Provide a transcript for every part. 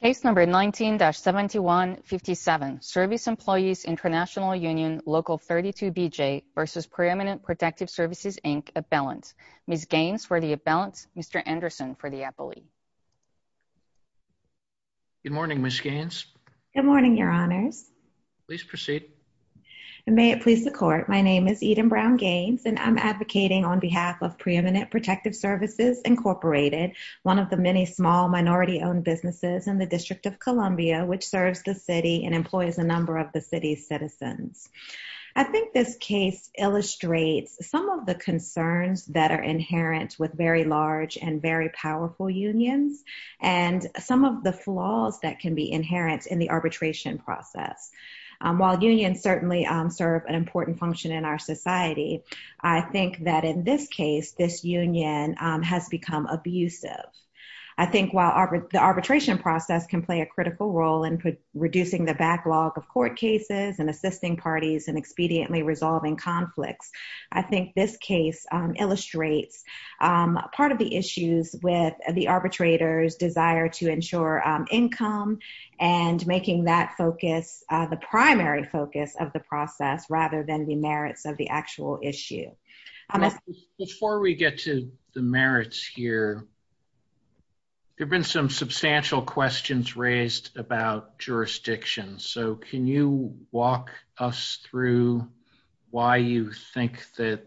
Case number 19-7157, Service Employees International Union Local 32BJ v. Preeminent Protective Services, Inc., Abellant. Ms. Gaines for the Abellant, Mr. Anderson for the Appellee. Good morning, Ms. Gaines. Good morning, your honors. Please proceed. May it please the court, my name is Eden Brown Gaines and I'm advocating on behalf of Preeminent Protective Services, Incorporated, one of the many small minority-owned businesses in the District of Columbia which serves the city and employs a number of the city's citizens. I think this case illustrates some of the concerns that are inherent with very large and very powerful unions and some of the flaws that can be inherent in the arbitration process. While unions certainly serve an abusive, I think while the arbitration process can play a critical role in reducing the backlog of court cases and assisting parties and expediently resolving conflicts, I think this case illustrates part of the issues with the arbitrator's desire to ensure income and making that focus the primary focus of the process rather than the merits of the actual issue. Before we get to the merits here, there have been some substantial questions raised about jurisdiction, so can you walk us through why you think that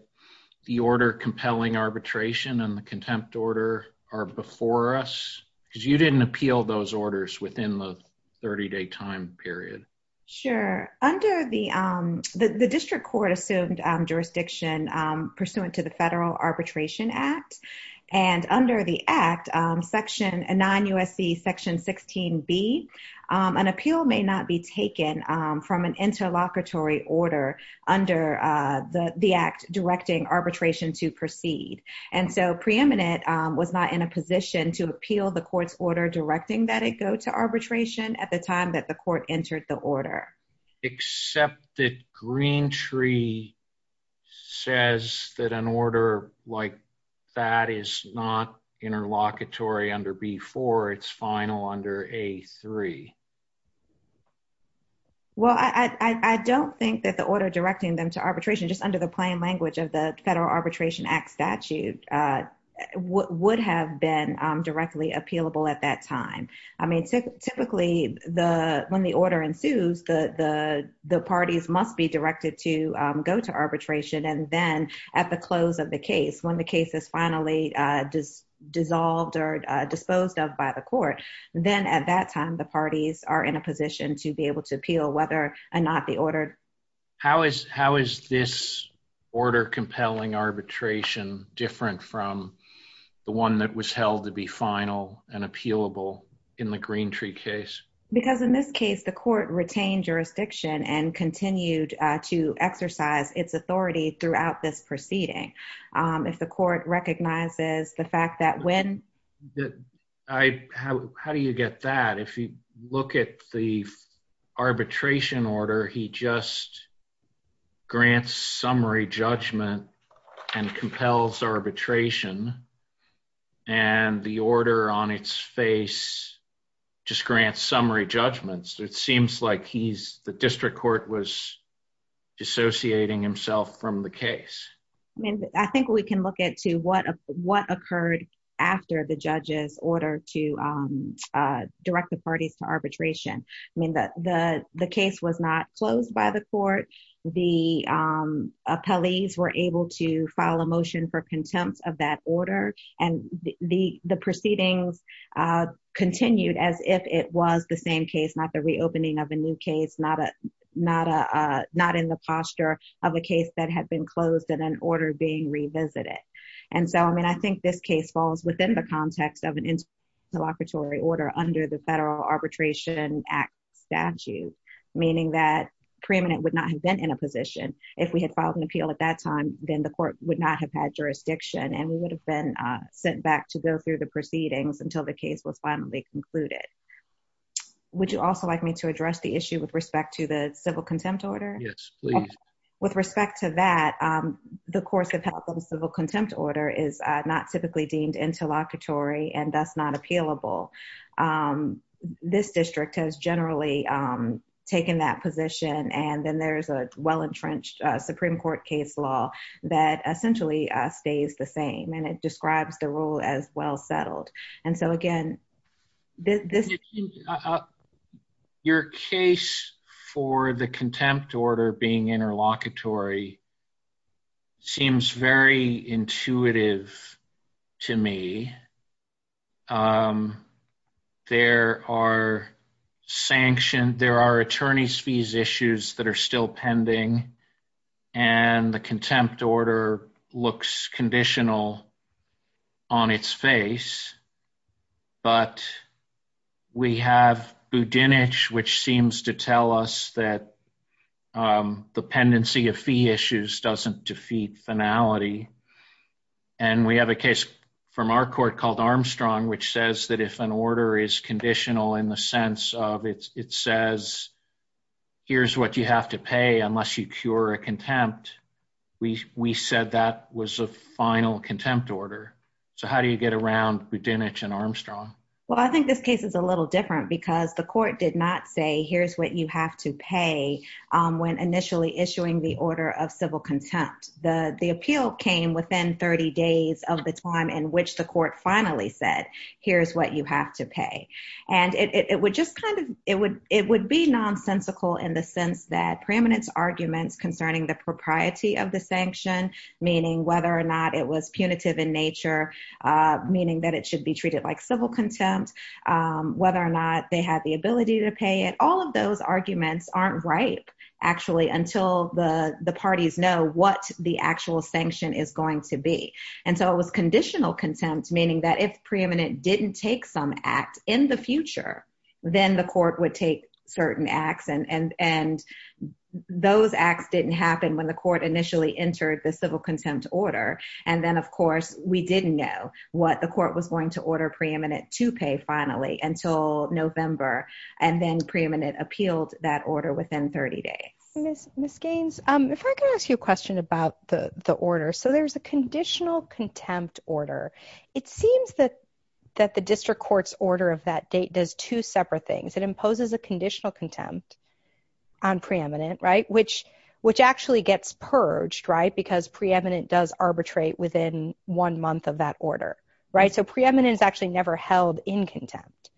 the order compelling arbitration and the contempt order are before us? Because you didn't appeal those orders within the 30-day time period. Sure. The District Court assumed jurisdiction pursuant to the Federal Arbitration Act, and under the Act, section 9 U.S.C. section 16b, an appeal may not be taken from an interlocutory order under the Act directing arbitration to proceed, and so Preeminent was not in a position to appeal the court's order directing that it go to arbitration at the time the court entered the order. Except that Greentree says that an order like that is not interlocutory under B-4, it's final under A-3. Well, I don't think that the order directing them to arbitration just under the plain language of the Federal Arbitration Act statute would have been directly appealable at that time. I mean, typically when the order ensues, the parties must be directed to go to arbitration, and then at the close of the case, when the case is finally dissolved or disposed of by the court, then at that time the parties are in a position to be able to appeal whether or not the order... How is this order compelling arbitration different from the one that was held to be final and appealable in the Greentree case? Because in this case, the court retained jurisdiction and continued to exercise its authority throughout this proceeding. If the court recognizes the fact that when... How do you get that? If you look at the arbitration order, he just grants summary judgment and compels arbitration, and the order on its face just grants summary judgments, it seems like the district court was dissociating himself from the case. I mean, I think we can look into what occurred after the judge's order to direct the parties to arbitration. I mean, the case was not closed by the court, the appellees were able to file a motion for contempt of that order, and the proceedings continued as if it was the same case, not the reopening of a new case, not in the posture of a case that had been closed in an order being revisited. And so, I mean, I think this case falls within the context of an interlocutory order under the Federal Arbitration Act statute, meaning that preeminent would not have been in a position. If we had filed an appeal at that time, then the court would not have had jurisdiction and we would have been sent back to go through the proceedings until the case was finally concluded. Would you also like me to address the issue with respect to the civil contempt order? Yes, please. With respect to that, the course of health of the civil contempt order is not typically deemed interlocutory and thus not appealable. This district has generally taken that position, and then there's a well-entrenched Supreme Court case law that essentially stays the same, and it describes the rule as well-settled. And so, again, this... Your case for the contempt order being interlocutory seems very intuitive to me. There are sanctioned... There are attorney's fees issues that are still pending, and the contempt order looks conditional on its face, but we have Budinich, which seems to tell us that the pendency of fee issues doesn't defeat finality. And we have a case from our court called Armstrong, which says that if an order is conditional in the sense of it says, here's what you have to pay unless you cure a contempt, we said that was a final contempt order. So how do you get around Budinich and Armstrong? Well, I think this case is a little different because the court did not say, here's what you have to pay when initially issuing the order of civil contempt. The court finally said, here's what you have to pay. And it would just kind of... It would be nonsensical in the sense that preeminence arguments concerning the propriety of the sanction, meaning whether or not it was punitive in nature, meaning that it should be treated like civil contempt, whether or not they had the ability to pay it, all of those arguments aren't ripe, actually, until the parties know what the actual sanction is going to be. And so it was conditional contempt, meaning that if preeminent didn't take some act in the future, then the court would take certain acts. And those acts didn't happen when the court initially entered the civil contempt order. And then, of course, we didn't know what the court was going to order preeminent to pay finally until November, and then preeminent appealed that order within 30 days. Ms. Gaines, if I could ask you a question about the order. So there's a conditional contempt order. It seems that the district court's order of that date does two separate things. It imposes a conditional contempt on preeminent, right, which actually gets purged, right, because preeminent does arbitrate within one month of that order, right? So preeminent is actually never held in contempt.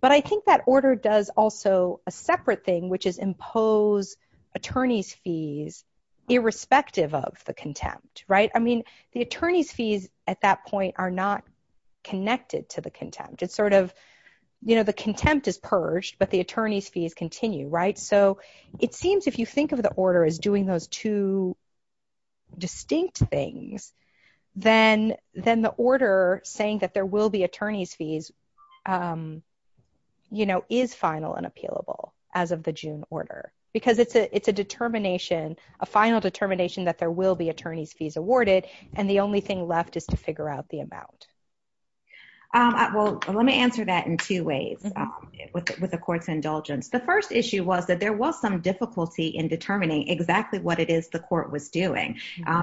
But I think that order does also a separate thing, which is impose attorney's fees irrespective of the contempt, right? I mean, the attorney's fees at that point are not connected to the contempt. It's sort of, you know, the contempt is purged, but the attorney's fees continue, right? So it seems if you think of the order as doing those two distinct things, then the order saying that there will be attorney's fees, you know, is final and appealable as of the June order, because it's a determination, a final determination that there will be attorney's fees awarded, and the only thing left is to figure out the amount. Well, let me answer that in two ways with the court's indulgence. The first issue was that there was some difficulty in determining exactly what it is the court was doing.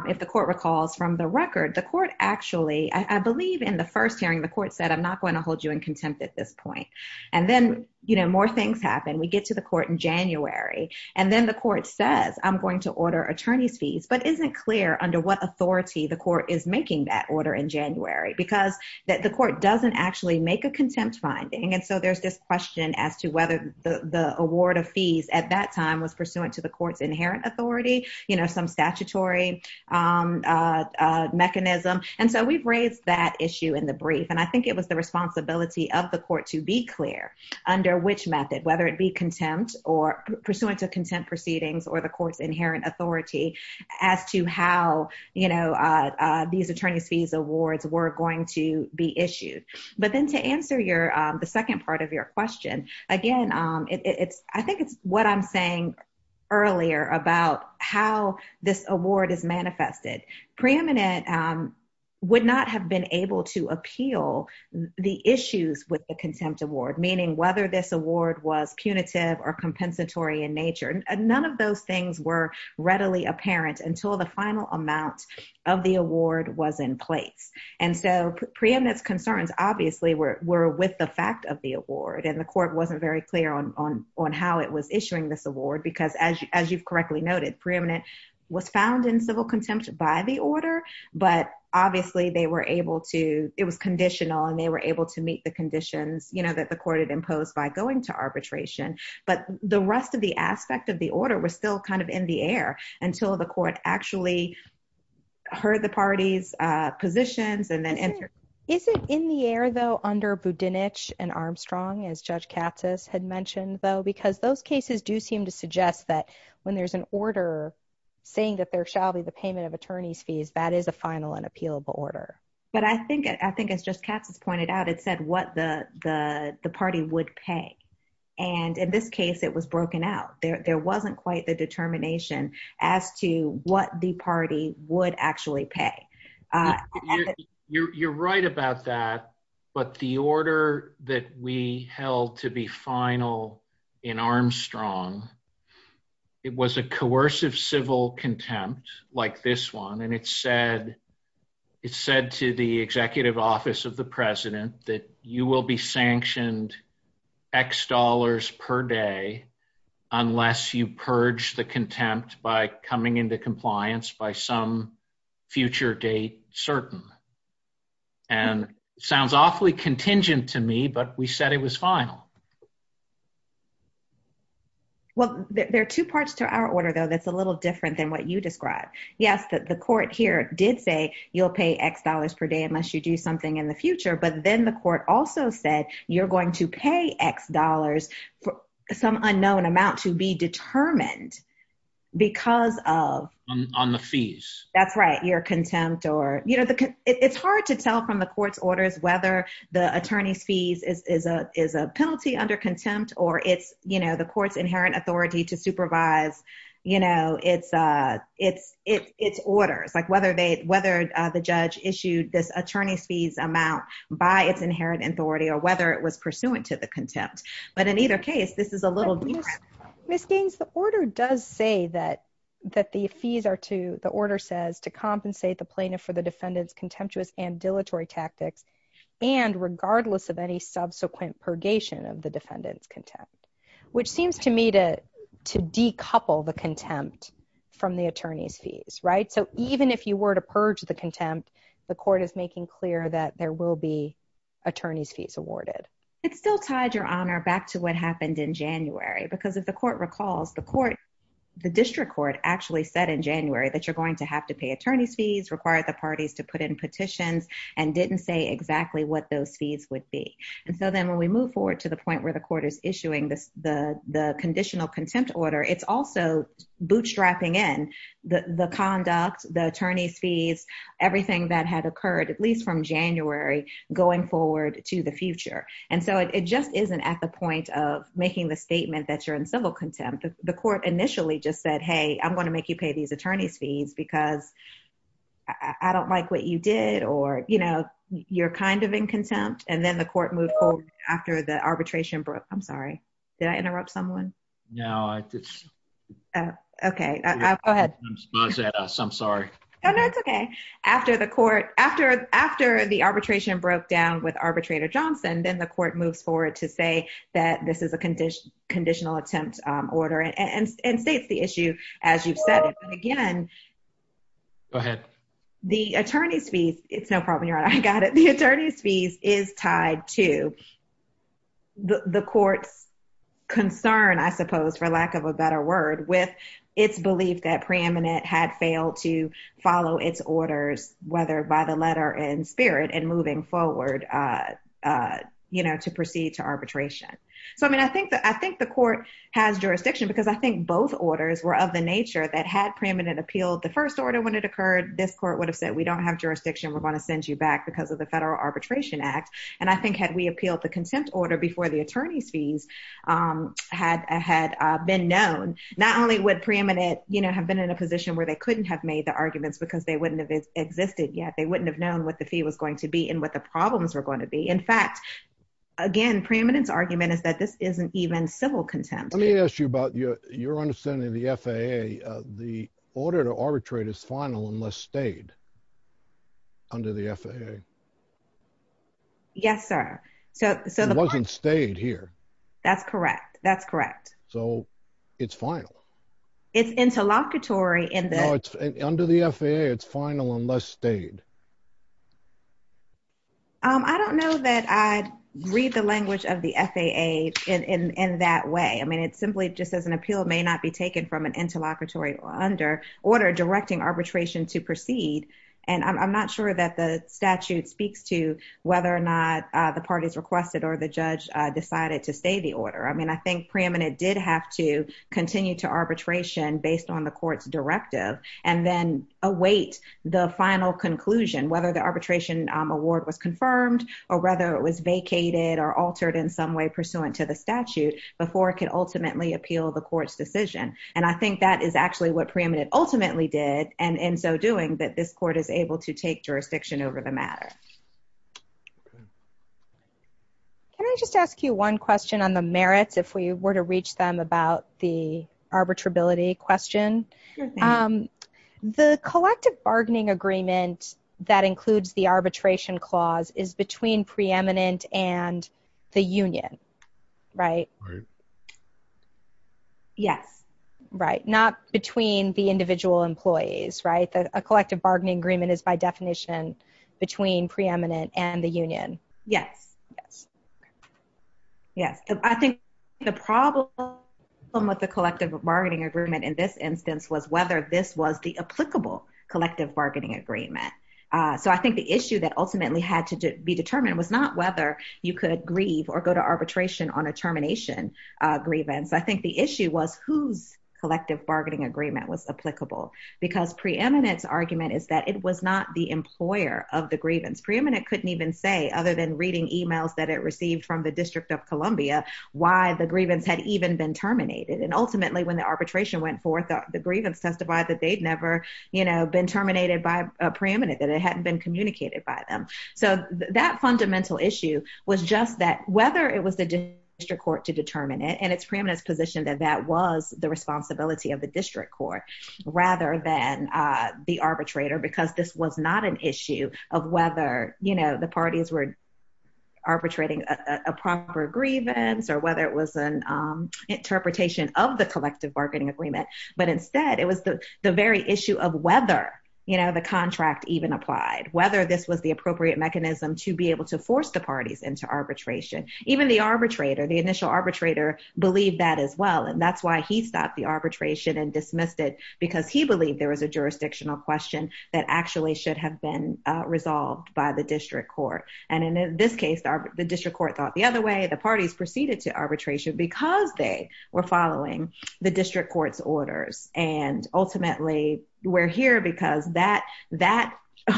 If the court recalls from the record, the court actually, I believe in the first hearing, the court said, I'm not going to hold you in contempt at this point. And then, you know, more things happen, we get to the court in January. And then the court says, I'm going to order attorney's fees, but isn't clear under what authority the court is making that order in January, because that the court doesn't actually make a contempt finding. And so there's this question as to whether the award of fees at that time was pursuant to the court's inherent authority, you know, some statutory mechanism. And so we've raised that issue in the brief. And I think it was the responsibility of the court to be clear under which method, whether it be contempt or pursuant to contempt proceedings or the court's inherent authority as to how, you know, these attorney's fees awards were going to be issued. But then to answer your the second part of your question, again, it's I think it's what I'm saying earlier about how this award is manifested. Preeminent would not have been able to appeal the issues with the contempt award, meaning whether this award was punitive or compensatory in nature, none of those things were readily apparent until the final amount of the award was in place. And so preeminence concerns, obviously, were with the fact of the and the court wasn't very clear on how it was issuing this award, because as you've correctly noted, preeminent was found in civil contempt by the order. But obviously, they were able to, it was conditional, and they were able to meet the conditions, you know, that the court had imposed by going to arbitration. But the rest of the aspect of the order was still kind of in the air until the court actually heard the party's positions and then entered. Is it in the air, though, under Budenich and Armstrong, as Judge Katz has had mentioned, though, because those cases do seem to suggest that when there's an order, saying that there shall be the payment of attorney's fees, that is a final and appealable order. But I think I think it's just Katz has pointed out, it said what the the party would pay. And in this case, it was broken out, there wasn't quite the determination as to what the party would actually pay. You're right about that. But the order that we held to be final, in Armstrong, it was a coercive civil contempt, like this one. And it said, it said to the executive office of the president that you will be sanctioned x dollars per day, unless you purge the contempt by coming into compliance by some future date certain. And sounds awfully contingent to me, but we said it was final. Well, there are two parts to our order, though, that's a little different than what you describe. Yes, the court here did say you'll pay x dollars per day unless you do something in the future. But then the court also said, you're going to pay x dollars for some unknown amount to be determined. Because of on the fees, that's right, your contempt or you know, the it's hard to tell from the court's orders, whether the attorney's fees is a is a penalty under contempt, or it's, you know, the court's inherent authority to supervise, you know, it's, it's, it's orders, like whether they whether the judge issued this attorney's fees amount by its inherent authority, or whether it was pursuant to the contempt. But in either case, this is a little Miss Gaines, the order does say that, that the fees are to the order says to compensate the plaintiff for the defendant's contemptuous and dilatory tactics, and regardless of any subsequent purgation of the defendant's contempt, which seems to me to, to decouple the contempt from the attorney's fees, right. So even if you were to purge the contempt, the court is making clear that there will be attorney's fees awarded. It's still tied your honor back to what happened in January, because if the court recalls the court, the district court actually said in January that you're going to have to pay attorney's fees required the parties to put in petitions, and didn't say exactly what those fees would be. And so then when we move forward to the point where the court is issuing this, the conditional contempt order, it's also bootstrapping in the conduct, the attorney's fees, everything that had occurred, at least from January, going forward to the future. And so it just isn't at the point of making the statement that you're in civil contempt, the court initially just said, hey, I'm going to make you pay these attorney's fees, because I don't like what you did, or, you know, you're kind of in contempt. And then the court moved forward after the arbitration broke. I'm No, I just. Okay, go ahead. I'm sorry. No, no, it's okay. After the court after after the arbitration broke down with arbitrator Johnson, then the court moves forward to say that this is a condition conditional attempt order and states the issue, as you've said it again. Go ahead. The attorney's fees, it's no problem. You're right. I got it. The attorney's fees is tied to the court's concern, I suppose, for lack of a better word, with its belief that preeminent had failed to follow its orders, whether by the letter and spirit and moving forward. You know, to proceed to arbitration. So I mean, I think that I think the court has jurisdiction, because I think both orders were of the nature that had preeminent appealed the first order when it occurred, this court would have said, we don't have jurisdiction, we're going to send you back because of the Federal Arbitration Act. And I think had we appealed the contempt order before the attorney's fees had been known, not only would preeminent, you know, have been in a position where they couldn't have made the arguments because they wouldn't have existed yet they wouldn't have known what the fee was going to be and what the problems are going to be. In fact, again, preeminence argument is that this isn't even civil contempt. Let me ask you about your, your understanding of the FAA, the order to arbitrate is final unless stayed under the FAA. Yes, sir. So, so the wasn't stayed here. That's correct. That's correct. So it's final. It's interlocutory in the under the FAA, it's final unless stayed. I don't know that I read the language of the FAA in that way. I mean, it's simply just as an appeal may not be taken from an interlocutory or under order directing arbitration to proceed. And I'm not sure that the statute speaks to whether or not the parties requested or the judge decided to stay the order. I mean, I think preeminent did have to continue to arbitration based on the court's directive and then await the final conclusion, whether the arbitration award was confirmed or whether it was vacated or altered in some way pursuant to the statute before it can ultimately appeal the court's decision. And I think that is actually what ultimately did and in so doing that this court is able to take jurisdiction over the matter. Can I just ask you one question on the merits, if we were to reach them about the arbitrability question? The collective bargaining agreement that includes the arbitration clause is between preeminent and the union, right? Yes, right. Not between the individual employees, right? A collective bargaining agreement is by definition between preeminent and the union. Yes. Yes. Yes. I think the problem with the collective bargaining agreement in this instance was whether this was the applicable collective bargaining agreement. So I think the issue that ultimately had to be determined was whether you could grieve or go to arbitration on a termination grievance. I think the issue was whose collective bargaining agreement was applicable because preeminent's argument is that it was not the employer of the grievance. Preeminent couldn't even say, other than reading emails that it received from the District of Columbia, why the grievance had even been terminated. And ultimately when the arbitration went forth, the grievance testified that they'd never been terminated by a preeminent, that it hadn't been communicated by them. So that fundamental issue was just that whether it was the district court to determine it, and it's preeminent's position that that was the responsibility of the district court, rather than the arbitrator, because this was not an issue of whether the parties were arbitrating a proper grievance or whether it was an interpretation of the collective bargaining agreement, but instead it was the very issue of whether the contract even applied, whether this the appropriate mechanism to be able to force the parties into arbitration. Even the arbitrator, the initial arbitrator, believed that as well. And that's why he stopped the arbitration and dismissed it, because he believed there was a jurisdictional question that actually should have been resolved by the district court. And in this case, the district court thought the other way. The parties proceeded to arbitration because they were following the district court's orders. And ultimately, we're here because that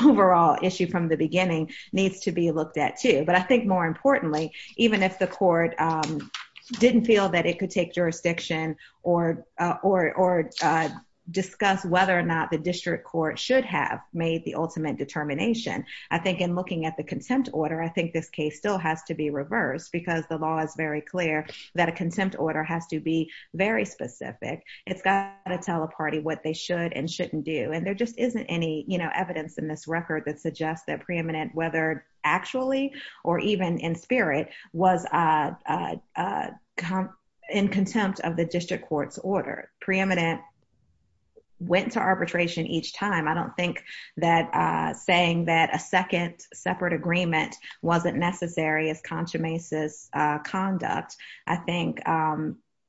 overall issue from the beginning needs to be looked at, too. But I think more importantly, even if the court didn't feel that it could take jurisdiction or discuss whether or not the district court should have made the ultimate determination, I think in looking at the contempt order, I think this case still has to be reversed, because the law is very clear that a contempt order has to be very specific. It's got to tell a party what they should and shouldn't do. And there just isn't any evidence in this record that suggests that preeminent, whether actually or even in spirit, was in contempt of the district court's order. Preeminent went to arbitration each time. I don't think that saying that a second separate agreement wasn't necessary as consummation conduct. I think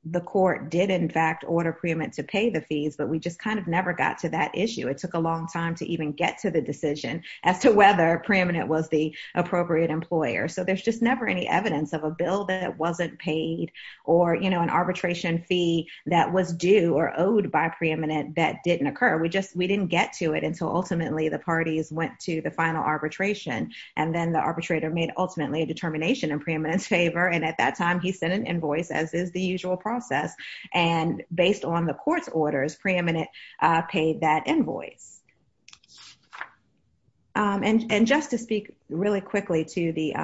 the court did, in fact, order preeminent to pay the fees, but we just kind of never got to that issue. It took a long time to even get to the decision as to whether preeminent was the appropriate employer. So there's just never any evidence of a bill that wasn't paid or an arbitration fee that was due or owed by preeminent that didn't occur. We didn't get to it until ultimately the parties went to final arbitration, and then the arbitrator made ultimately a determination in preeminent's favor, and at that time he sent an invoice, as is the usual process, and based on the court's orders, preeminent paid that invoice. And just to speak really quickly to the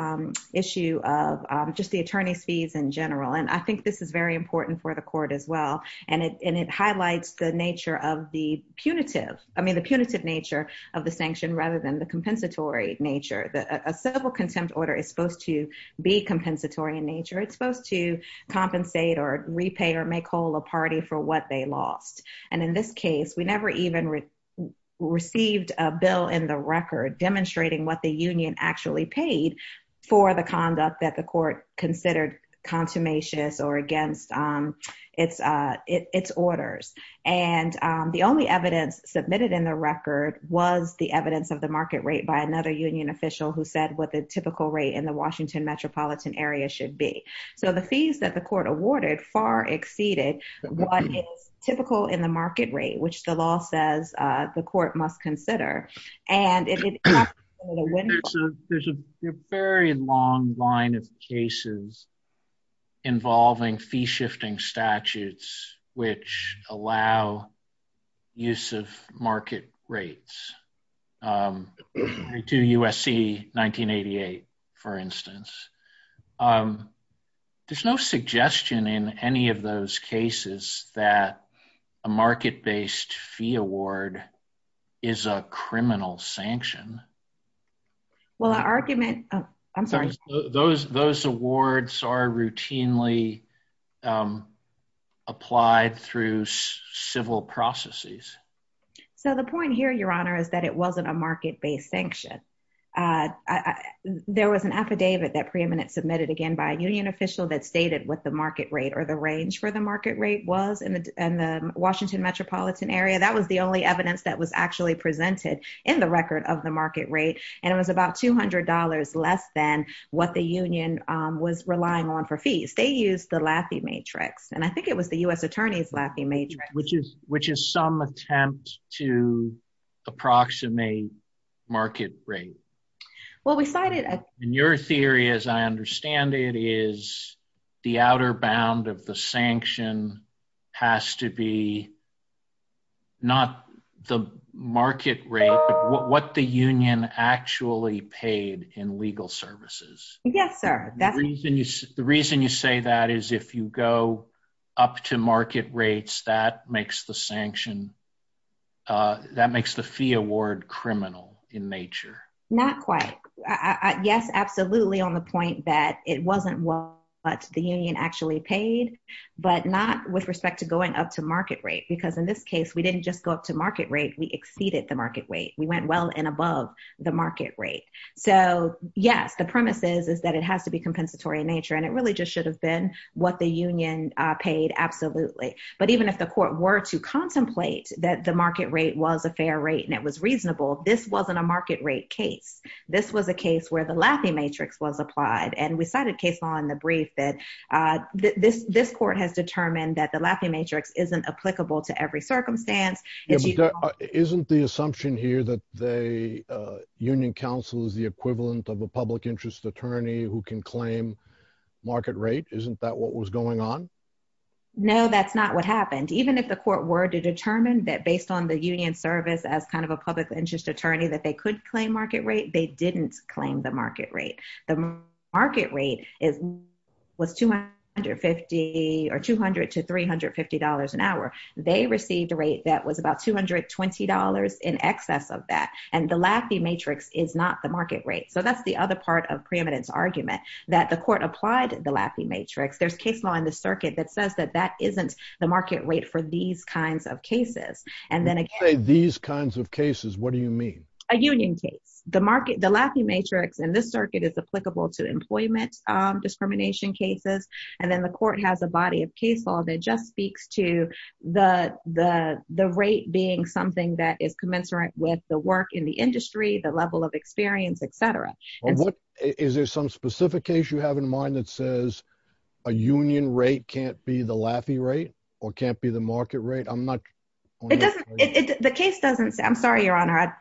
issue of just the attorney's fees in general, and I think this is very important for the court as well, and it highlights the punitive nature of the sanction rather than the compensatory nature. A civil contempt order is supposed to be compensatory in nature. It's supposed to compensate or repay or make whole a party for what they lost. And in this case, we never even received a bill in the record demonstrating what the union actually paid for the conduct that the court considered consummatious or against its orders. And the only evidence submitted in the record was the evidence of the market rate by another union official who said what the typical rate in the Washington metropolitan area should be. So the fees that the court awarded far exceeded what is typical in the market rate, which the law says the court must consider. And it's a very long line of cases involving fee-shifting statutes which allow use of market rates to USC 1988, for instance. There's no suggestion in any of those cases that a market-based fee award is a criminal sanction. Well, our argument... I'm sorry. Those awards are routinely applied through civil processes. So the point here, Your Honor, is that it wasn't a market-based sanction. There was an affidavit that preeminent submitted again by a union official that stated what the market rate or the range for the market rate was in the Washington metropolitan area. That was the record of the market rate. And it was about $200 less than what the union was relying on for fees. They used the Laffey Matrix. And I think it was the U.S. Attorney's Laffey Matrix. Which is some attempt to approximate market rate. Well, we cited... In your theory, as I understand it, is the outer bound of the sanction has to be not the market rate, but what the union actually paid in legal services. Yes, sir. The reason you say that is if you go up to market rates, that makes the sanction... That makes the fee award criminal in nature. Not quite. Yes, absolutely, on the point that it wasn't what the union actually paid, but not with respect to going up to market rate. Because in this case, we didn't just go up to market rate, we exceeded the market rate. We went well and above the market rate. So yes, the premise is, is that it has to be compensatory in nature. And it really just should have been what the union paid, absolutely. But even if the court were to contemplate that the market rate was a fair rate and it was reasonable, this wasn't a market rate case. This was a case where the Laffey Matrix was applied. And we cited case in the brief that this court has determined that the Laffey Matrix isn't applicable to every circumstance. Isn't the assumption here that the union counsel is the equivalent of a public interest attorney who can claim market rate? Isn't that what was going on? No, that's not what happened. Even if the court were to determine that based on the union service as kind of a public interest attorney, that they could claim market rate, they didn't claim the was 250 or 200 to $350 an hour. They received a rate that was about $220 in excess of that. And the Laffey Matrix is not the market rate. So that's the other part of preeminence argument that the court applied the Laffey Matrix. There's case law in the circuit that says that that isn't the market rate for these kinds of cases. And then again- When you say these kinds of cases, what do you mean? A union case. The Laffey Matrix in this circuit is applicable to employment discrimination cases. And then the court has a body of case law that just speaks to the rate being something that is commensurate with the work in the industry, the level of experience, et cetera. Is there some specific case you have in mind that says a union rate can't be the Laffey rate or can't be the market rate? I'm not- The case doesn't say, I'm sorry, your honor.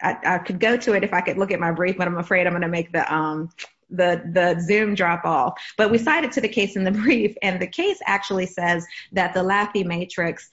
I could go to it if I could look at my brief, I'm afraid I'm going to make the Zoom drop all. But we cited to the case in the brief and the case actually says that the Laffey Matrix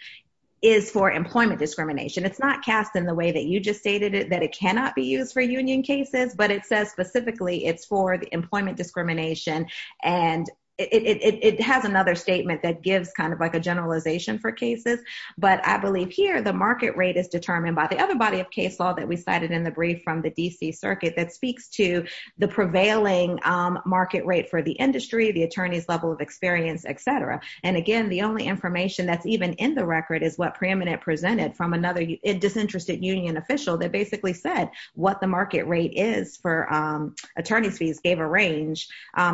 is for employment discrimination. It's not cast in the way that you just stated it, that it cannot be used for union cases, but it says specifically it's for the employment discrimination. And it has another statement that gives kind of like a generalization for cases. But I believe here the market rate is determined by the other body of case law that we cited in the brief from the DC circuit that speaks to the prevailing market rate for the industry, the attorney's level of experience, et cetera. And again, the only information that's even in the record is what preeminent presented from another disinterested union official that basically said what the market rate is for attorney's fees gave a range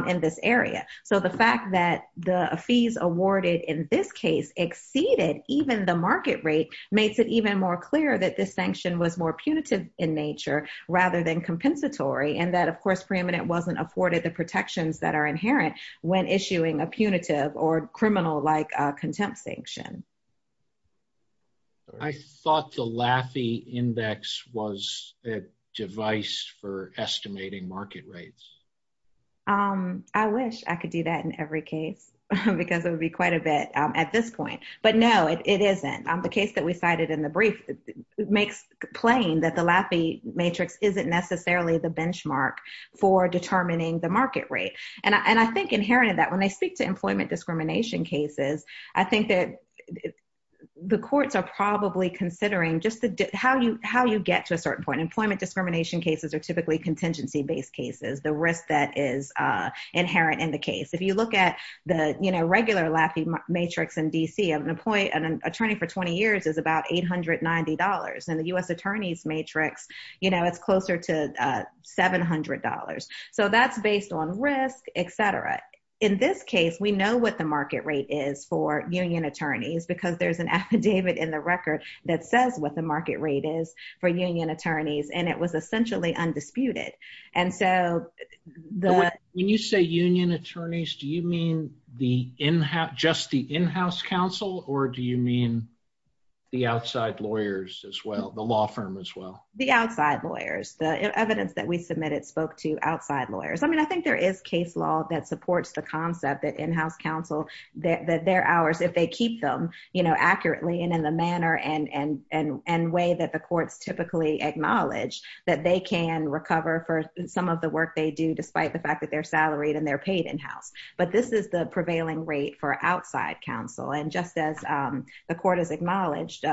in this area. So the fact that the fees awarded in this case exceeded even the market rate makes it even more clear that this sanction was more punitive in nature rather than compensatory, and that of course preeminent wasn't afforded the protections that are inherent when issuing a punitive or criminal-like contempt sanction. I thought the Laffey Index was a device for estimating market rates. I wish I could do that in every case because it would be quite a bit at this point. But no, it isn't. The case that we cited in the brief makes plain that the Laffey matrix isn't necessarily the benchmark for determining the market rate. And I think inherent in that, when they speak to employment discrimination cases, I think that the courts are probably considering just how you get to a certain point. Employment discrimination cases are typically contingency based cases, the risk that is inherent in the case. If you look at the regular Laffey matrix in D.C., an attorney for 20 years is about $890. In the U.S. attorneys matrix, it's closer to $700. So that's based on risk, etc. In this case, we know what the market rate is for union attorneys because there's an affidavit in the record that says what the market rate is for union attorneys, and it was essentially undisputed. And so when you say union attorneys, do you mean just the in-house counsel or do you mean the outside lawyers as well, the law firm as well? The outside lawyers. The evidence that we submitted spoke to outside lawyers. I mean, I think there is case law that supports the concept that in-house counsel, that they're ours if they keep them accurately and in the manner and way that the courts typically acknowledge that they can recover for some of the work they do despite the fact that they're salaried and they're paid in-house. But this is the prevailing rate for outside counsel. And just as the court has acknowledged,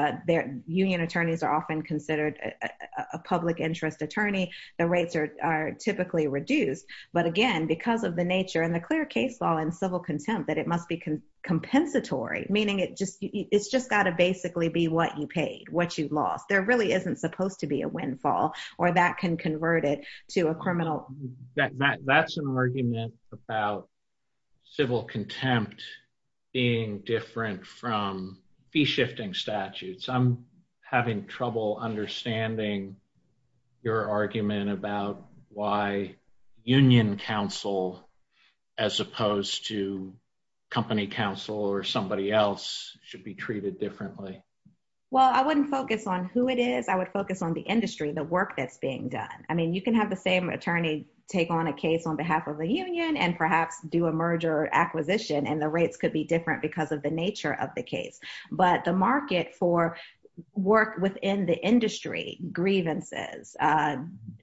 union attorneys are often considered a public interest attorney. The rates are typically reduced. But again, because of the nature and the clear case law and civil contempt that it must be compensatory, meaning it's just got to basically be what you paid, what you lost. There really isn't supposed to be a windfall or that can convert it to a criminal. That's an argument about civil contempt being different from fee-shifting statutes. I'm having trouble understanding your argument about why union counsel as opposed to company counsel or somebody else should be treated differently. Well, I wouldn't focus on who it is. I would focus on the industry, the work that's being done. I mean, you can have the same attorney take on a case on behalf of a union and perhaps do a merger acquisition and the rates could be different because of the nature of the case. But the market for work within the industry, grievances,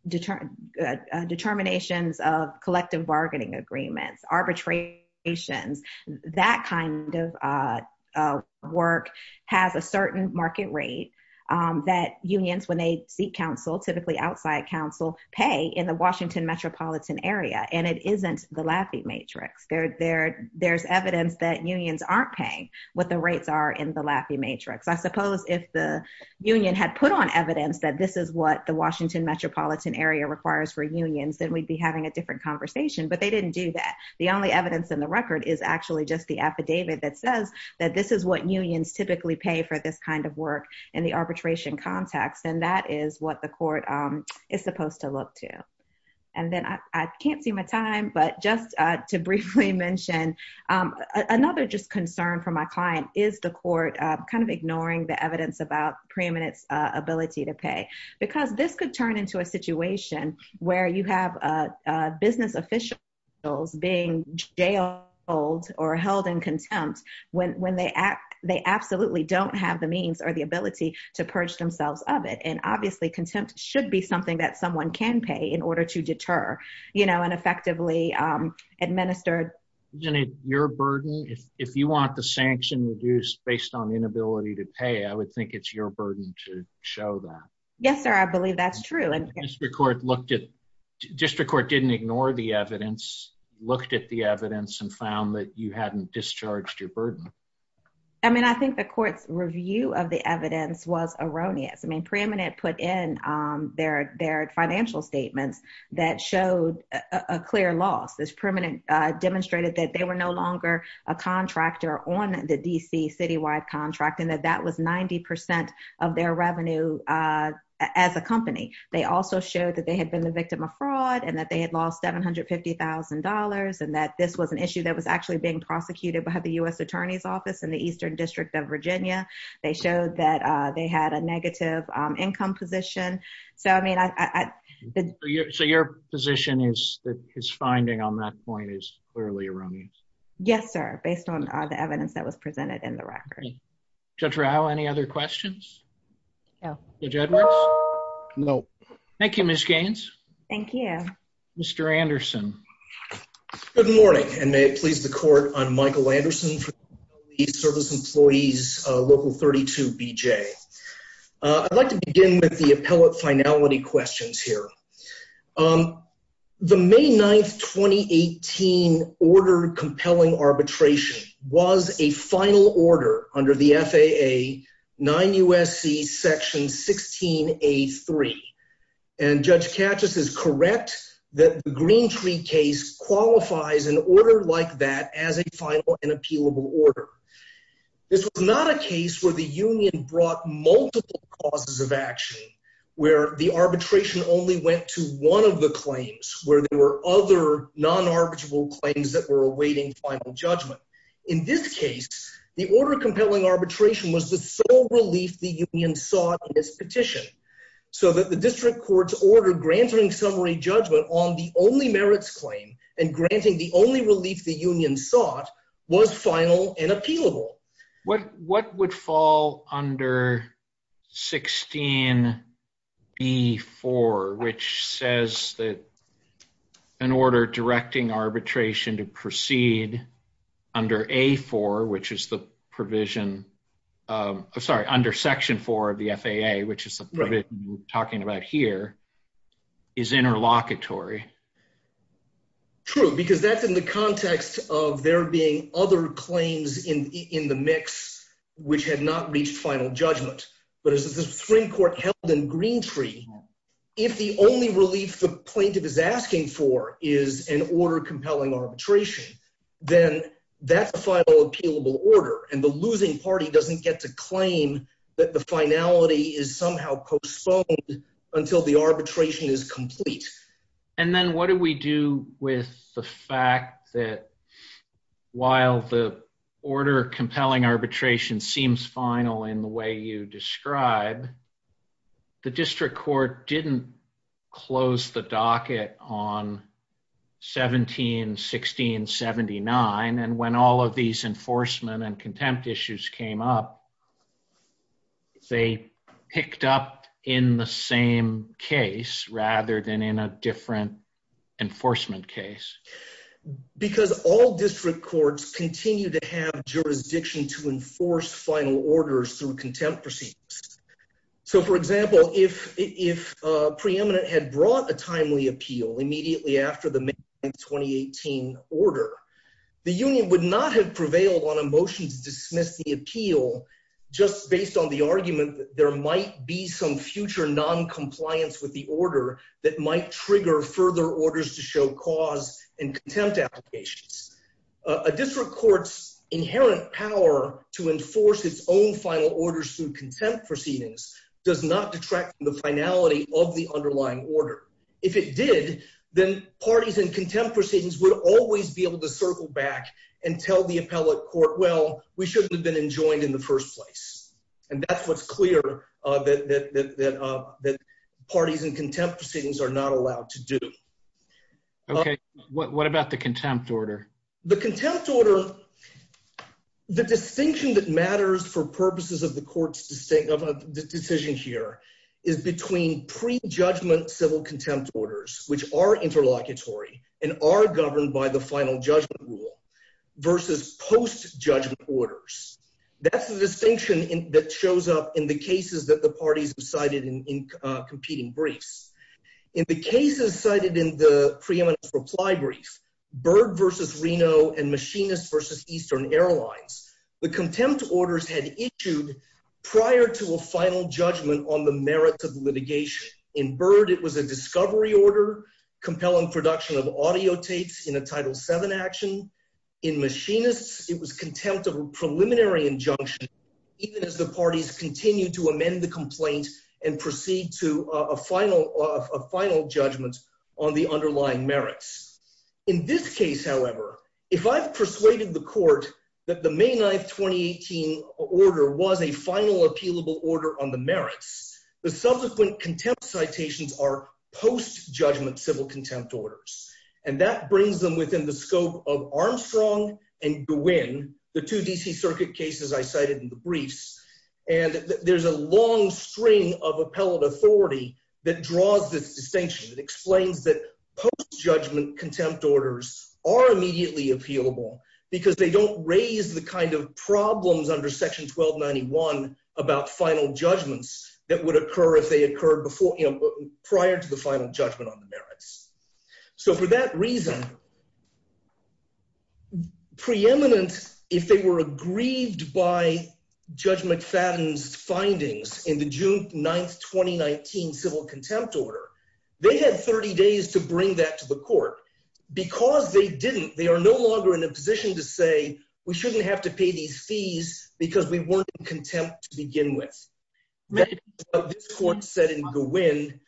determinations of collective bargaining agreements, arbitrations, that kind of work has a certain market rate that unions, when they seek counsel, typically outside counsel, pay in the Washington metropolitan area. And it isn't the Lafayette matrix. There's evidence that unions aren't paying what the rates are in the Lafayette matrix. I suppose if the union had put on evidence that this is what the Washington metropolitan area requires for unions, then we'd be having a different conversation, but they didn't do that. The only evidence in the record is actually just the affidavit that says that this is what unions typically pay for this kind of work in the arbitration context. And that is what the court is supposed to look to. And then I can't see my time, but just to briefly mention, another just concern for my client is the court kind of ignoring the evidence about preeminence ability to pay. Because this could turn into a situation where you have business officials being jailed or held in contempt when they absolutely don't have the means or the ability to purge themselves of it. And obviously contempt should be something that someone can pay in order to deter, you know, and effectively administer. Isn't it your burden, if you want the sanction reduced based on inability to pay, I would think it's your burden to show that. Yes, sir. I believe that's true. District court didn't ignore the evidence, looked at the evidence and found that you hadn't discharged your burden. I mean, I think the court's review of the evidence was erroneous. I mean, preeminent put in their financial statements that showed a clear loss. This preeminent demonstrated that they were no longer a contractor on the DC citywide contract, and that that was 90% of their revenue as a company. They also showed that they had been the victim of fraud and that they had lost $750,000 and that this was an issue that was actually being prosecuted by the US Attorney's Office in the Eastern District of Virginia. They showed that they had a negative income position. So I mean, So your position is that his finding on that point is clearly erroneous? Yes, sir. Based on the evidence that was presented in the record. Judge Rao, any other questions? Judge Edwards? No. Thank you, Ms. Gaines. Thank you. Mr. Anderson. Good morning, and may it please the court, I'm Michael Anderson from the East Service Employees Local 32BJ. I'd like to begin with the appellate finality questions here. The May 9th, 2018 order compelling arbitration was a final order under the FAA 9 U.S.C. Section 16A.3, and Judge Katchis is correct that the Greentree case qualifies an order like that as a final and appealable order. This was not a case where the union brought multiple causes of action, where the arbitration only went to one of the claims, where there were other non-arbitrable claims that were awaiting final judgment. In this case, the order compelling arbitration was the sole relief the union sought in this petition, so that the district court's order granting summary judgment on the only merits claim and granting the only relief the union sought was final and appealable. What would fall under 16B4, which says that an order directing arbitration to proceed under A4, which is the provision, sorry, under Section 4 of the FAA, which is the provision we're talking about here, is interlocutory? True, because that's in the context of there being other claims in the mix which had not reached final judgment. But as the Supreme Court held in Greentree, if the only relief the plaintiff is asking for is an order compelling arbitration, then that's a final appealable order, and the losing party doesn't get to claim that the finality is somehow postponed until the arbitration is complete. And then what do we do with the fact that while the order compelling arbitration seems final in the way you describe, the district court didn't close the docket on 17-16-79, and when all of and contempt issues came up, they picked up in the same case rather than in a different enforcement case? Because all district courts continue to have jurisdiction to enforce final orders through contempt proceedings. So, for example, if a preeminent had brought a timely appeal immediately after the May 2018 order, the union would not have prevailed on a motion to dismiss the appeal just based on the argument that there might be some future noncompliance with the order that might trigger further orders to show cause and contempt applications. A district court's inherent power to enforce its own final orders through contempt proceedings does not detract from the finality of the underlying order. If it did, then parties in contempt proceedings would always be able to circle back and tell the appellate court, well, we shouldn't have been enjoined in the first place. And that's what's clear that parties in contempt proceedings are not allowed to do. Okay, what about the contempt order? The contempt order, the distinction that matters for purposes of the court's decision here is between pre-judgment civil contempt orders, which are interlocutory and are governed by the final judgment rule, versus post-judgment orders. That's the distinction that shows up in the cases that the parties have cited in competing briefs. In the cases cited in the preeminent reply brief, Byrd v. Reno and Machinist v. Eastern Airlines, the contempt orders had issued prior to a final judgment on the merits of litigation. In Byrd, it was a discovery order, compelling production of audio tapes in a Title VII action. In Machinist, it was contempt of a preliminary injunction, even as the parties continue to amend the complaint and proceed to a final judgment on the underlying merits. In this case, however, if I've persuaded the court that the May 9, 2018 order was a final appealable order on the merits, the subsequent contempt citations are post-judgment civil contempt orders. And that brings them within the scope of Armstrong and Gwynn, the two DC circuit cases I cited in the briefs. And there's a long string of appellate authority that draws this distinction. It explains that post-judgment contempt orders are immediately appealable because they don't raise the kind of problems under section 1291 about final judgments that would occur if they occurred prior to the final judgment on the merits. So for that reason, preeminent, if they were aggrieved by Judge McFadden's findings in the June 9, 2019 civil contempt order, they had 30 days to bring that to the court. Because they didn't, they are no longer in a position to say, we shouldn't have to pay these fees because we weren't in contempt to begin with. This court said in Gwynn,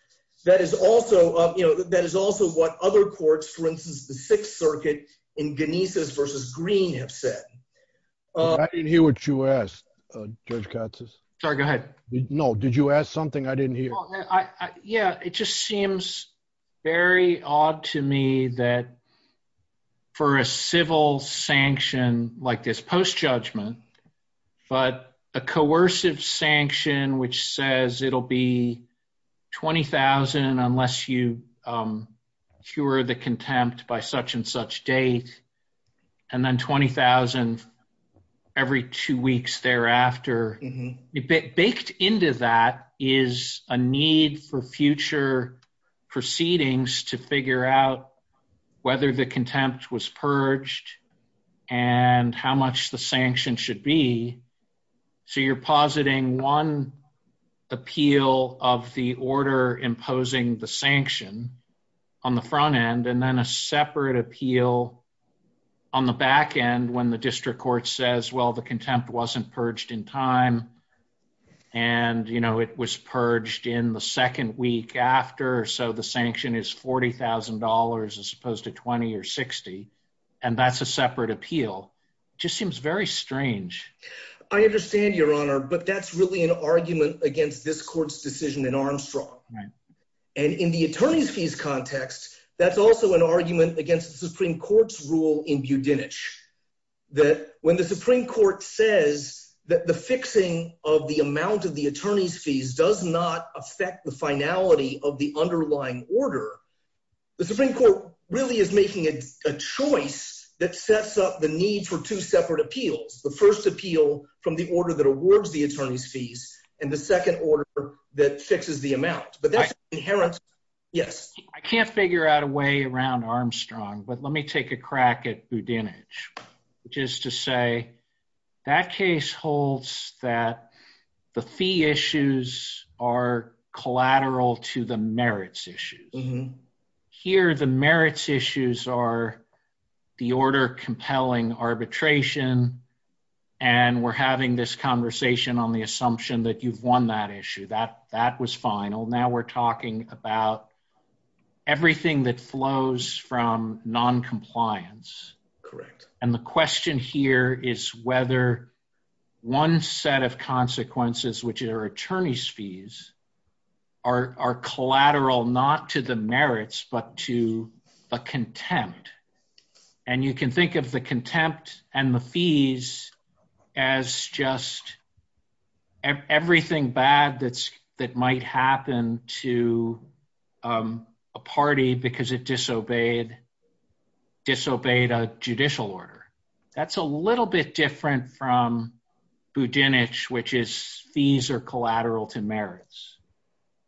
that is also, you know, that is also what other courts, for instance, the Sixth Circuit in Genises versus Green have said. I didn't hear what you asked, Judge Katz. Sorry, go ahead. No, did you ask something I didn't hear? Yeah, it just seems very odd to me that for a civil sanction like this post-judgment, but a coercive sanction which says it'll be 20,000 unless you cure the contempt by such and such date, and then 20,000 every two weeks thereafter. Baked into that is a need for future proceedings to figure out whether the contempt was purged and how much the sanction should be. So you're positing one appeal of the order imposing the sanction on the front end and then a separate appeal on the back end when the district court says, well, the contempt wasn't purged in time and, you know, it was purged in the second week after. So the sanction is $40,000 as opposed to 20 or 60, and that's a separate appeal. It just seems very strange. I understand, Your Honor, but that's really an argument against this court's decision in Armstrong. And in the attorney's fees context, that's also an argument against the Supreme Court. When the Supreme Court says that the fixing of the amount of the attorney's fees does not affect the finality of the underlying order, the Supreme Court really is making a choice that sets up the need for two separate appeals. The first appeal from the order that awards the attorney's fees and the second order that fixes the amount. But that's inherent. Yes. I can't figure out a way around Armstrong, but let me take a crack at Budinich, which is to say that case holds that the fee issues are collateral to the merits issues. Here the merits issues are the order compelling arbitration and we're having this conversation on the assumption that you've we're talking about everything that flows from non-compliance. Correct. And the question here is whether one set of consequences, which are attorney's fees, are collateral not to the merits but to the contempt. And you can think of the contempt and the fees as just everything bad that might happen to a party because it disobeyed a judicial order. That's a little bit different from Budinich, which is fees are collateral to merits.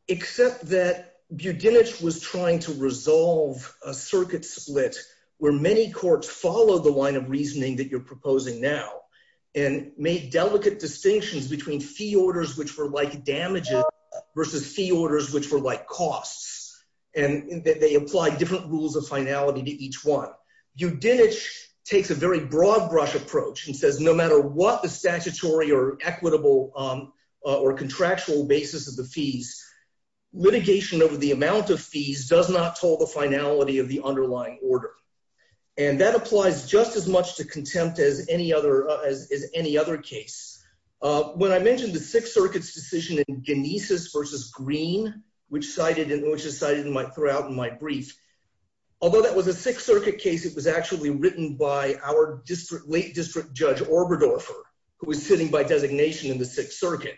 Except that Budinich was trying to resolve a circuit split where many courts follow the line of reasoning that you're proposing now and made delicate distinctions between fee orders which were like damages versus fee orders which were like costs. And they apply different rules of finality to each one. Budinich takes a very broad brush approach and says no matter what the statutory or equitable or contractual basis of the fees, litigation over the amount of fees does not toll the finality of the underlying order. And that applies just as much to contempt as any other case. When I mentioned the Sixth Circuit's decision in Genesis versus Green, which is cited throughout in my brief, although that was a Sixth Circuit case, it was actually written by our late District Judge Oberdorfer, who was sitting by designation in the Sixth Circuit,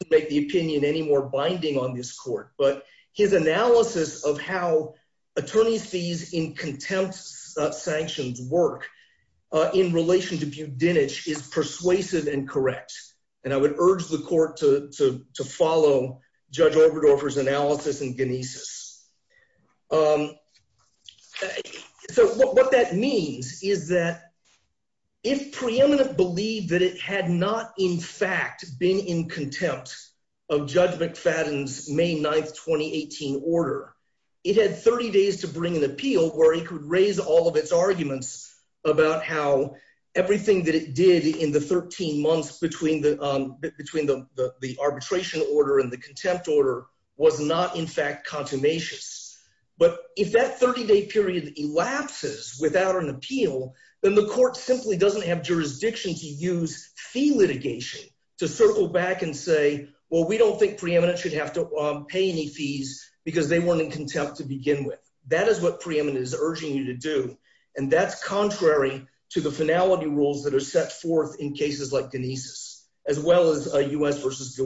to make the opinion any more binding on this court. But his analysis of how attorney fees in contempt sanctions work in relation to Budinich is persuasive and correct. And I would urge the court to follow Judge Oberdorfer's analysis in Genesis. So what that means is that if preeminent believed that it had not in fact been in contempt of Judge McFadden's May 9th, 2018 order, it had 30 days to bring an appeal where he could raise all of its arguments about how everything that it did in the 13 months between the arbitration order and the contempt order was not in fact consummatious. But if that 30-day period elapses without an appeal, then the court simply doesn't have jurisdiction to use fee litigation to circle back and say, well, we don't think preeminent should have to pay any fees because they weren't in contempt to begin with. That is what preeminent is urging you to do. And that's contrary to the finality rules that are set forth in cases like Genesis, as well as U.S. v.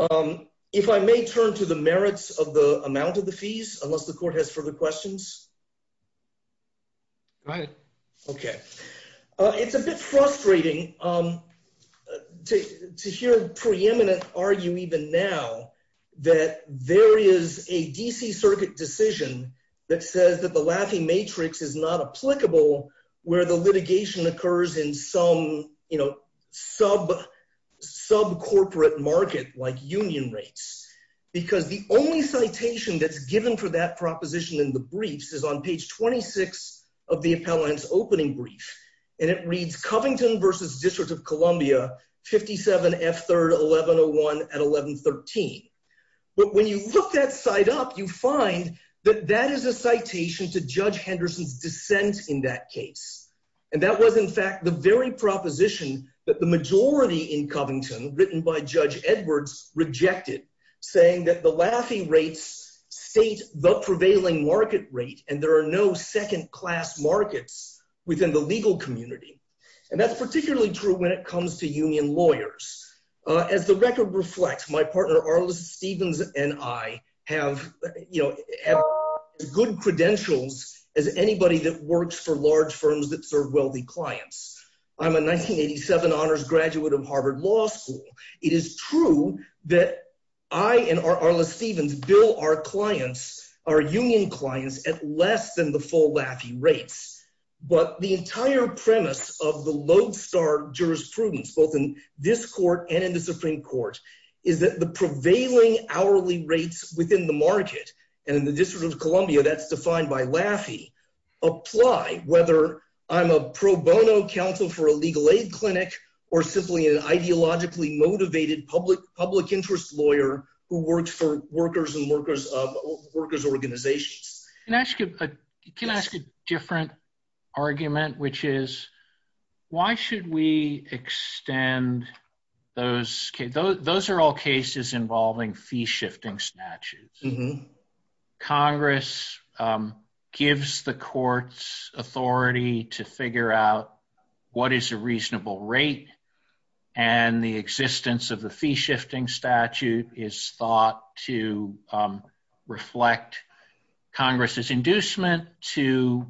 Gwinn. If I may turn to the merits of the amount of the fees, unless the court has further questions? All right. Okay. It's a bit frustrating to hear preeminent argue even now that there is a D.C. Circuit decision that says that the Laffey matrix is not applicable where the litigation occurs in some sub-corporate market, like union rates. Because the only citation that's given for that is on page 26 of the appellant's opening brief. And it reads, Covington v. District of Columbia, 57 F. 3rd, 1101 at 1113. But when you look that side up, you find that that is a citation to Judge Henderson's dissent in that case. And that was in fact the very proposition that the majority in Covington, written by Judge Edwards, rejected, saying that the Laffey rates state the prevailing market rate, and there are no second-class markets within the legal community. And that's particularly true when it comes to union lawyers. As the record reflects, my partner Arliss Stevens and I have, you know, good credentials as anybody that works for large firms that serve wealthy clients. I'm a 1987 honors graduate of Harvard Law School. It is true that I and Arliss Stevens bill our clients, our union clients, at less than the full Laffey rates. But the entire premise of the lodestar jurisprudence, both in this court and in the Supreme Court, is that the prevailing hourly rates within the market, and in the District of Columbia that's defined by Laffey, apply whether I'm a pro bono counsel for a legal aid clinic or simply an ideologically motivated public interest lawyer who works for workers and workers of workers organizations. Can I ask you, can I ask a different argument, which is why should we extend those, those are all cases involving fee shifting statutes. Congress gives the courts authority to figure out what is a reasonable rate and the existence of the fee shifting statute is thought to reflect Congress's inducement to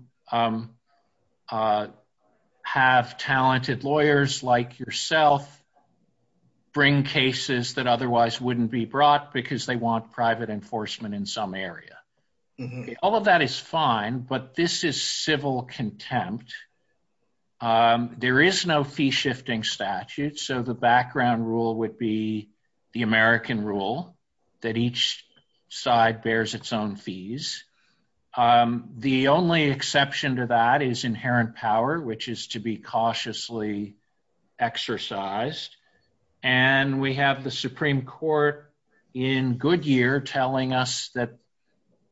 have talented lawyers like yourself bring cases that otherwise wouldn't be brought because they want private enforcement in some area. All of that is fine, but this is contempt. There is no fee shifting statute, so the background rule would be the American rule that each side bears its own fees. The only exception to that is inherent power, which is to be cautiously exercised. And we have the Supreme Court in Goodyear telling us that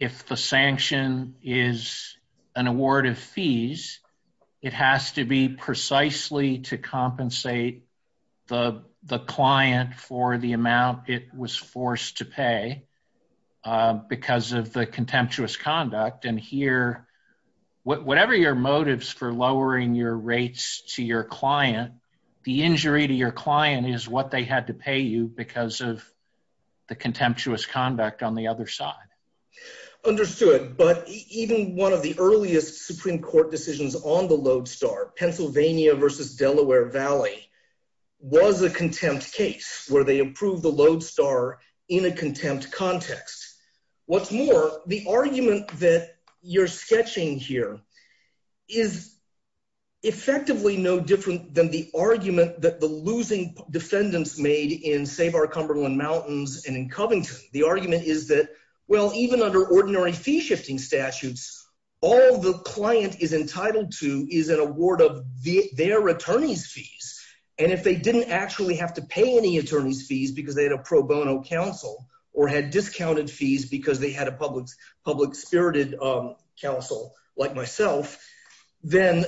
if the sanction is an award of fees, it has to be precisely to compensate the client for the amount it was forced to pay because of the contemptuous conduct. And here, whatever your motives for lowering your rates to your client, the injury to your client is what they had to pay because of the contemptuous conduct on the other side. Understood, but even one of the earliest Supreme Court decisions on the Lodestar, Pennsylvania versus Delaware Valley, was a contempt case where they approved the Lodestar in a contempt context. What's more, the argument that you're sketching here is effectively no different than the argument that the losing defendants made in Save Our Cumberland Mountains and in Covington. The argument is that, well, even under ordinary fee shifting statutes, all the client is entitled to is an award of their attorney's fees. And if they didn't actually have to pay any attorney's fees because they had a pro bono counsel or had discounted fees because they had a public-spirited counsel like myself, then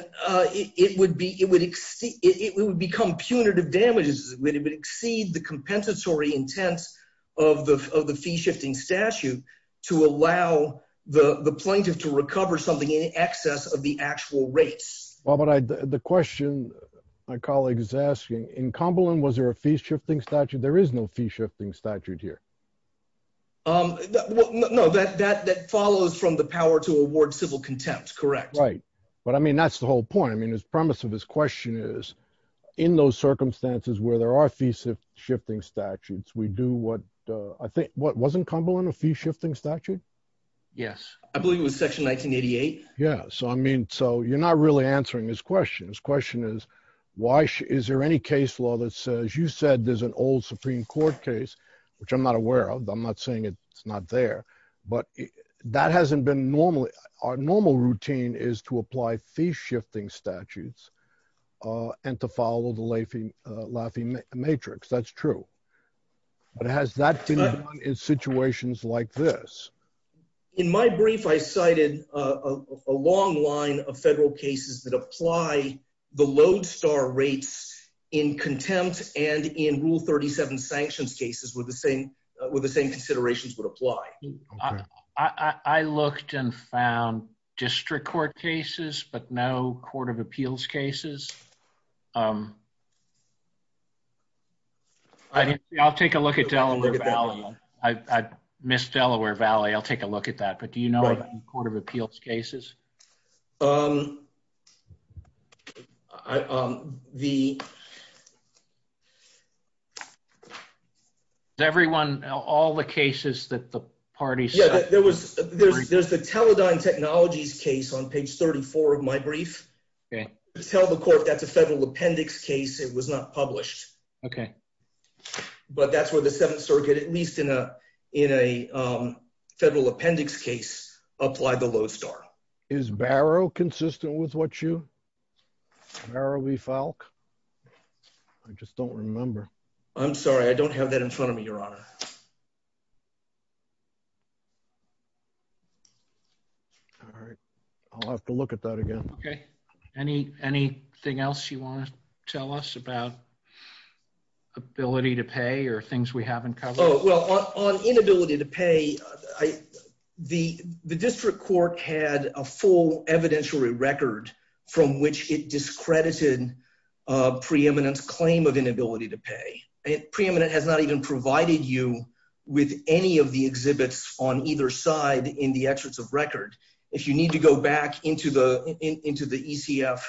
it would become punitive damages. It would exceed the compensatory intent of the fee shifting statute to allow the plaintiff to recover something in excess of the actual rates. Well, but the question my colleague is asking, in Cumberland, was there a fee shifting statute? There is no fee shifting statute here. Um, no, that follows from the power to award civil contempt, correct? Right. But I mean, that's the whole point. I mean, the premise of his question is, in those circumstances where there are fee shifting statutes, we do what, I think, what, wasn't Cumberland a fee shifting statute? Yes. I believe it was Section 1988. Yeah. So, I mean, so you're not really answering his question. His question is, is there any case law that says, you said there's an old Supreme Court case, which I'm not aware of, I'm not saying it's not there, but that hasn't been normally, our normal routine is to apply fee shifting statutes and to follow the Laffey matrix. That's true. But has that been done in situations like this? In my brief, I cited a long line of federal cases that apply the lodestar rates in contempt and in rule 37 sanctions cases where the same considerations would apply. I looked and found district court cases, but no court of appeals cases. I'll take a look at Delaware Valley. I missed Delaware Valley. I'll take a look at that. But you know, court of appeals cases. The everyone, all the cases that the parties. Yeah, there was, there's the Teledyne technologies case on page 34 of my brief. Tell the court that's a federal appendix case. It was not published. Okay. But that's where the seventh circuit, at least in a, in a federal appendix case, apply the lodestar. Is Barrow consistent with what you, Barrow v. Falk? I just don't remember. I'm sorry. I don't have that in front of me, your honor. All right. I'll have to look at that again. Okay. Any, anything else you want to tell us about? Ability to pay or things we haven't covered? Oh, well on inability to pay, I, the, the district court had a full evidentiary record from which it discredited a preeminent claim of inability to pay. It preeminent has not even provided you with any of the exhibits on either side in the exits of record. If you need to go back into the, into the ECF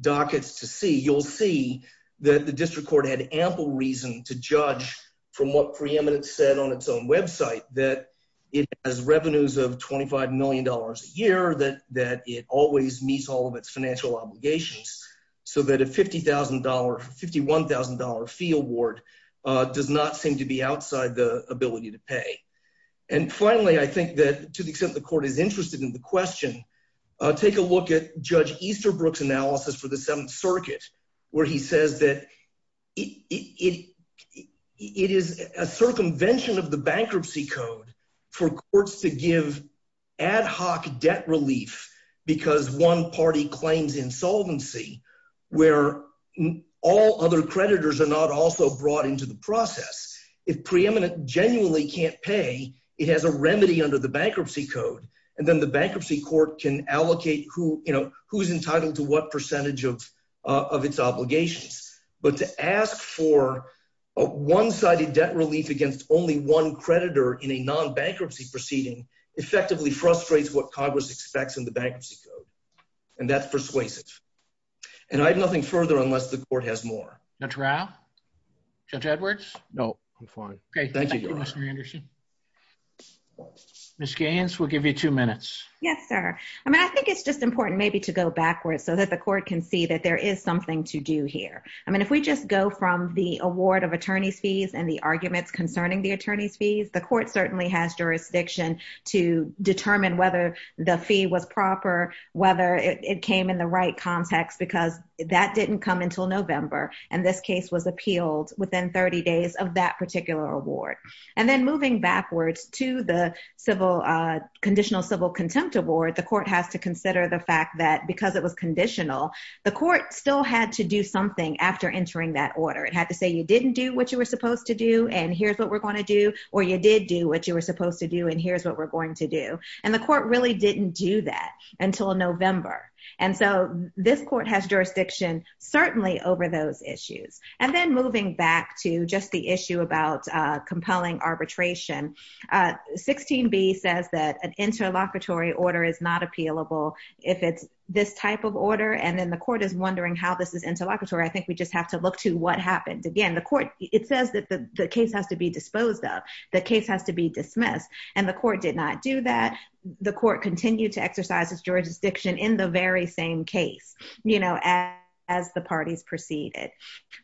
dockets to see, you'll see that the district court had ample reason to judge from what preeminent said on its own website, that it has revenues of $25 million a year, that, that it always meets all of its financial obligations. So that a $50,000, $51,000 fee award does not seem to be outside the ability to pay. And finally, I think that to the extent the court is interested in the question, take a look at judge Easterbrook's analysis for the seventh circuit, where he says that it, it, it is a circumvention of the bankruptcy code for courts to give ad hoc debt relief because one party claims insolvency where all other creditors are not also brought into the process. If preeminent genuinely can't pay, it has a remedy under the bankruptcy code. And then the bankruptcy court can allocate who, you know, who's entitled to what percentage of, of its obligations, but to ask for a one-sided debt relief against only one creditor in a non-bankruptcy proceeding effectively frustrates what Congress expects in the bankruptcy code. And that's persuasive. And I have nothing further unless the court has more. Judge Rao? Judge Edwards? No, I'm fine. Okay. Thank you, Mr. Anderson. Ms. Gaines, we'll give you two minutes. Yes, sir. I mean, I think it's just important maybe to go backwards so that the court can see that there is something to do here. I mean, if we just go from the award of attorney's fees and the arguments concerning the attorney's fees, the court certainly has jurisdiction to determine whether the fee was proper, whether it came in the right context, because that didn't come until November. And this case was appealed within 30 days of that particular award. And then moving backwards to the civil conditional civil contempt award, the court has to consider the fact that because it was conditional, the court still had to do something after entering that order. It had to say, you didn't do what you were supposed to do, and here's what we're going to do, or you did do what you were supposed to do, and here's what we're going to do. And the court really didn't do that until November. And so this court has jurisdiction certainly over those issues. And then moving back to just the issue about compelling arbitration, 16b says that an interlocutory order is not appealable if it's this type of order. And then the court is wondering how this is interlocutory. I think we just have to look to what happened. Again, the court, it says that the case has to be disposed of, the case has to be dismissed, and the court did not do that. The court continued to exercise its jurisdiction in the very same case, you know, as the parties proceeded.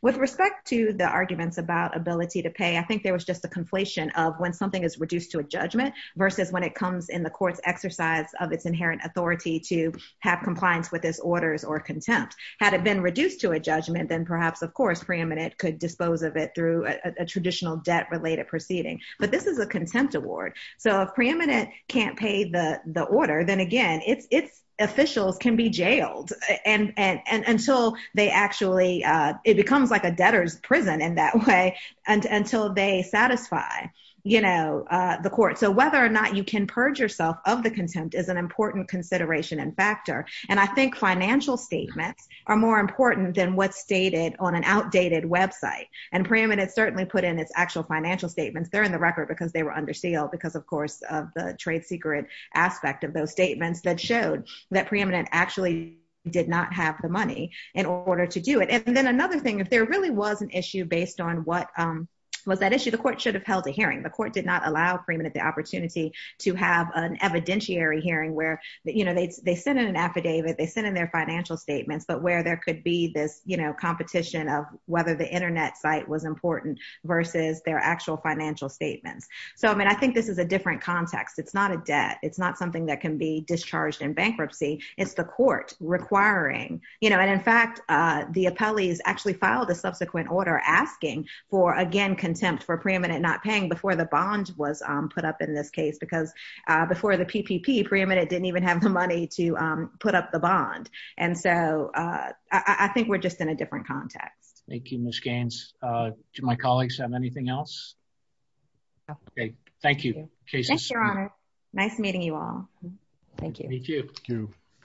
With respect to the arguments about ability to pay, I think there was just a conflation of when something is reduced to a judgment versus when it comes in the court's exercise of its inherent authority to have compliance with its orders or contempt. Had it been reduced to a judgment, then perhaps, of course, preeminent could dispose of it through a traditional debt-related proceeding. But this is a contempt award. So if preeminent can't pay the order, then again, its officials can be jailed until they actually, it becomes like a debtor's prison in that way, until they satisfy, you know, the court. So whether or not you can purge yourself of the contempt is an important consideration and factor. And I think financial statements are more important than what's stated on an outdated website. And preeminent certainly put in its actual financial statements. They're in the record because they were under trade secret aspect of those statements that showed that preeminent actually did not have the money in order to do it. And then another thing, if there really was an issue based on what was that issue, the court should have held a hearing. The court did not allow preeminent the opportunity to have an evidentiary hearing where, you know, they sent in an affidavit, they sent in their financial statements, but where there could be this, you know, competition of whether the internet site was important versus their actual financial statements. So I mean, I think this is a different context. It's not a debt. It's not something that can be discharged in bankruptcy. It's the court requiring, you know, and in fact, the appellees actually filed a subsequent order asking for again, contempt for preeminent not paying before the bond was put up in this case, because before the PPP, preeminent didn't even have the money to put up the bond. And so I think we're just in a different context. Thank you, Ms. Gaines. Do my colleagues have anything else? Okay, thank you. Nice meeting you all. Thank you.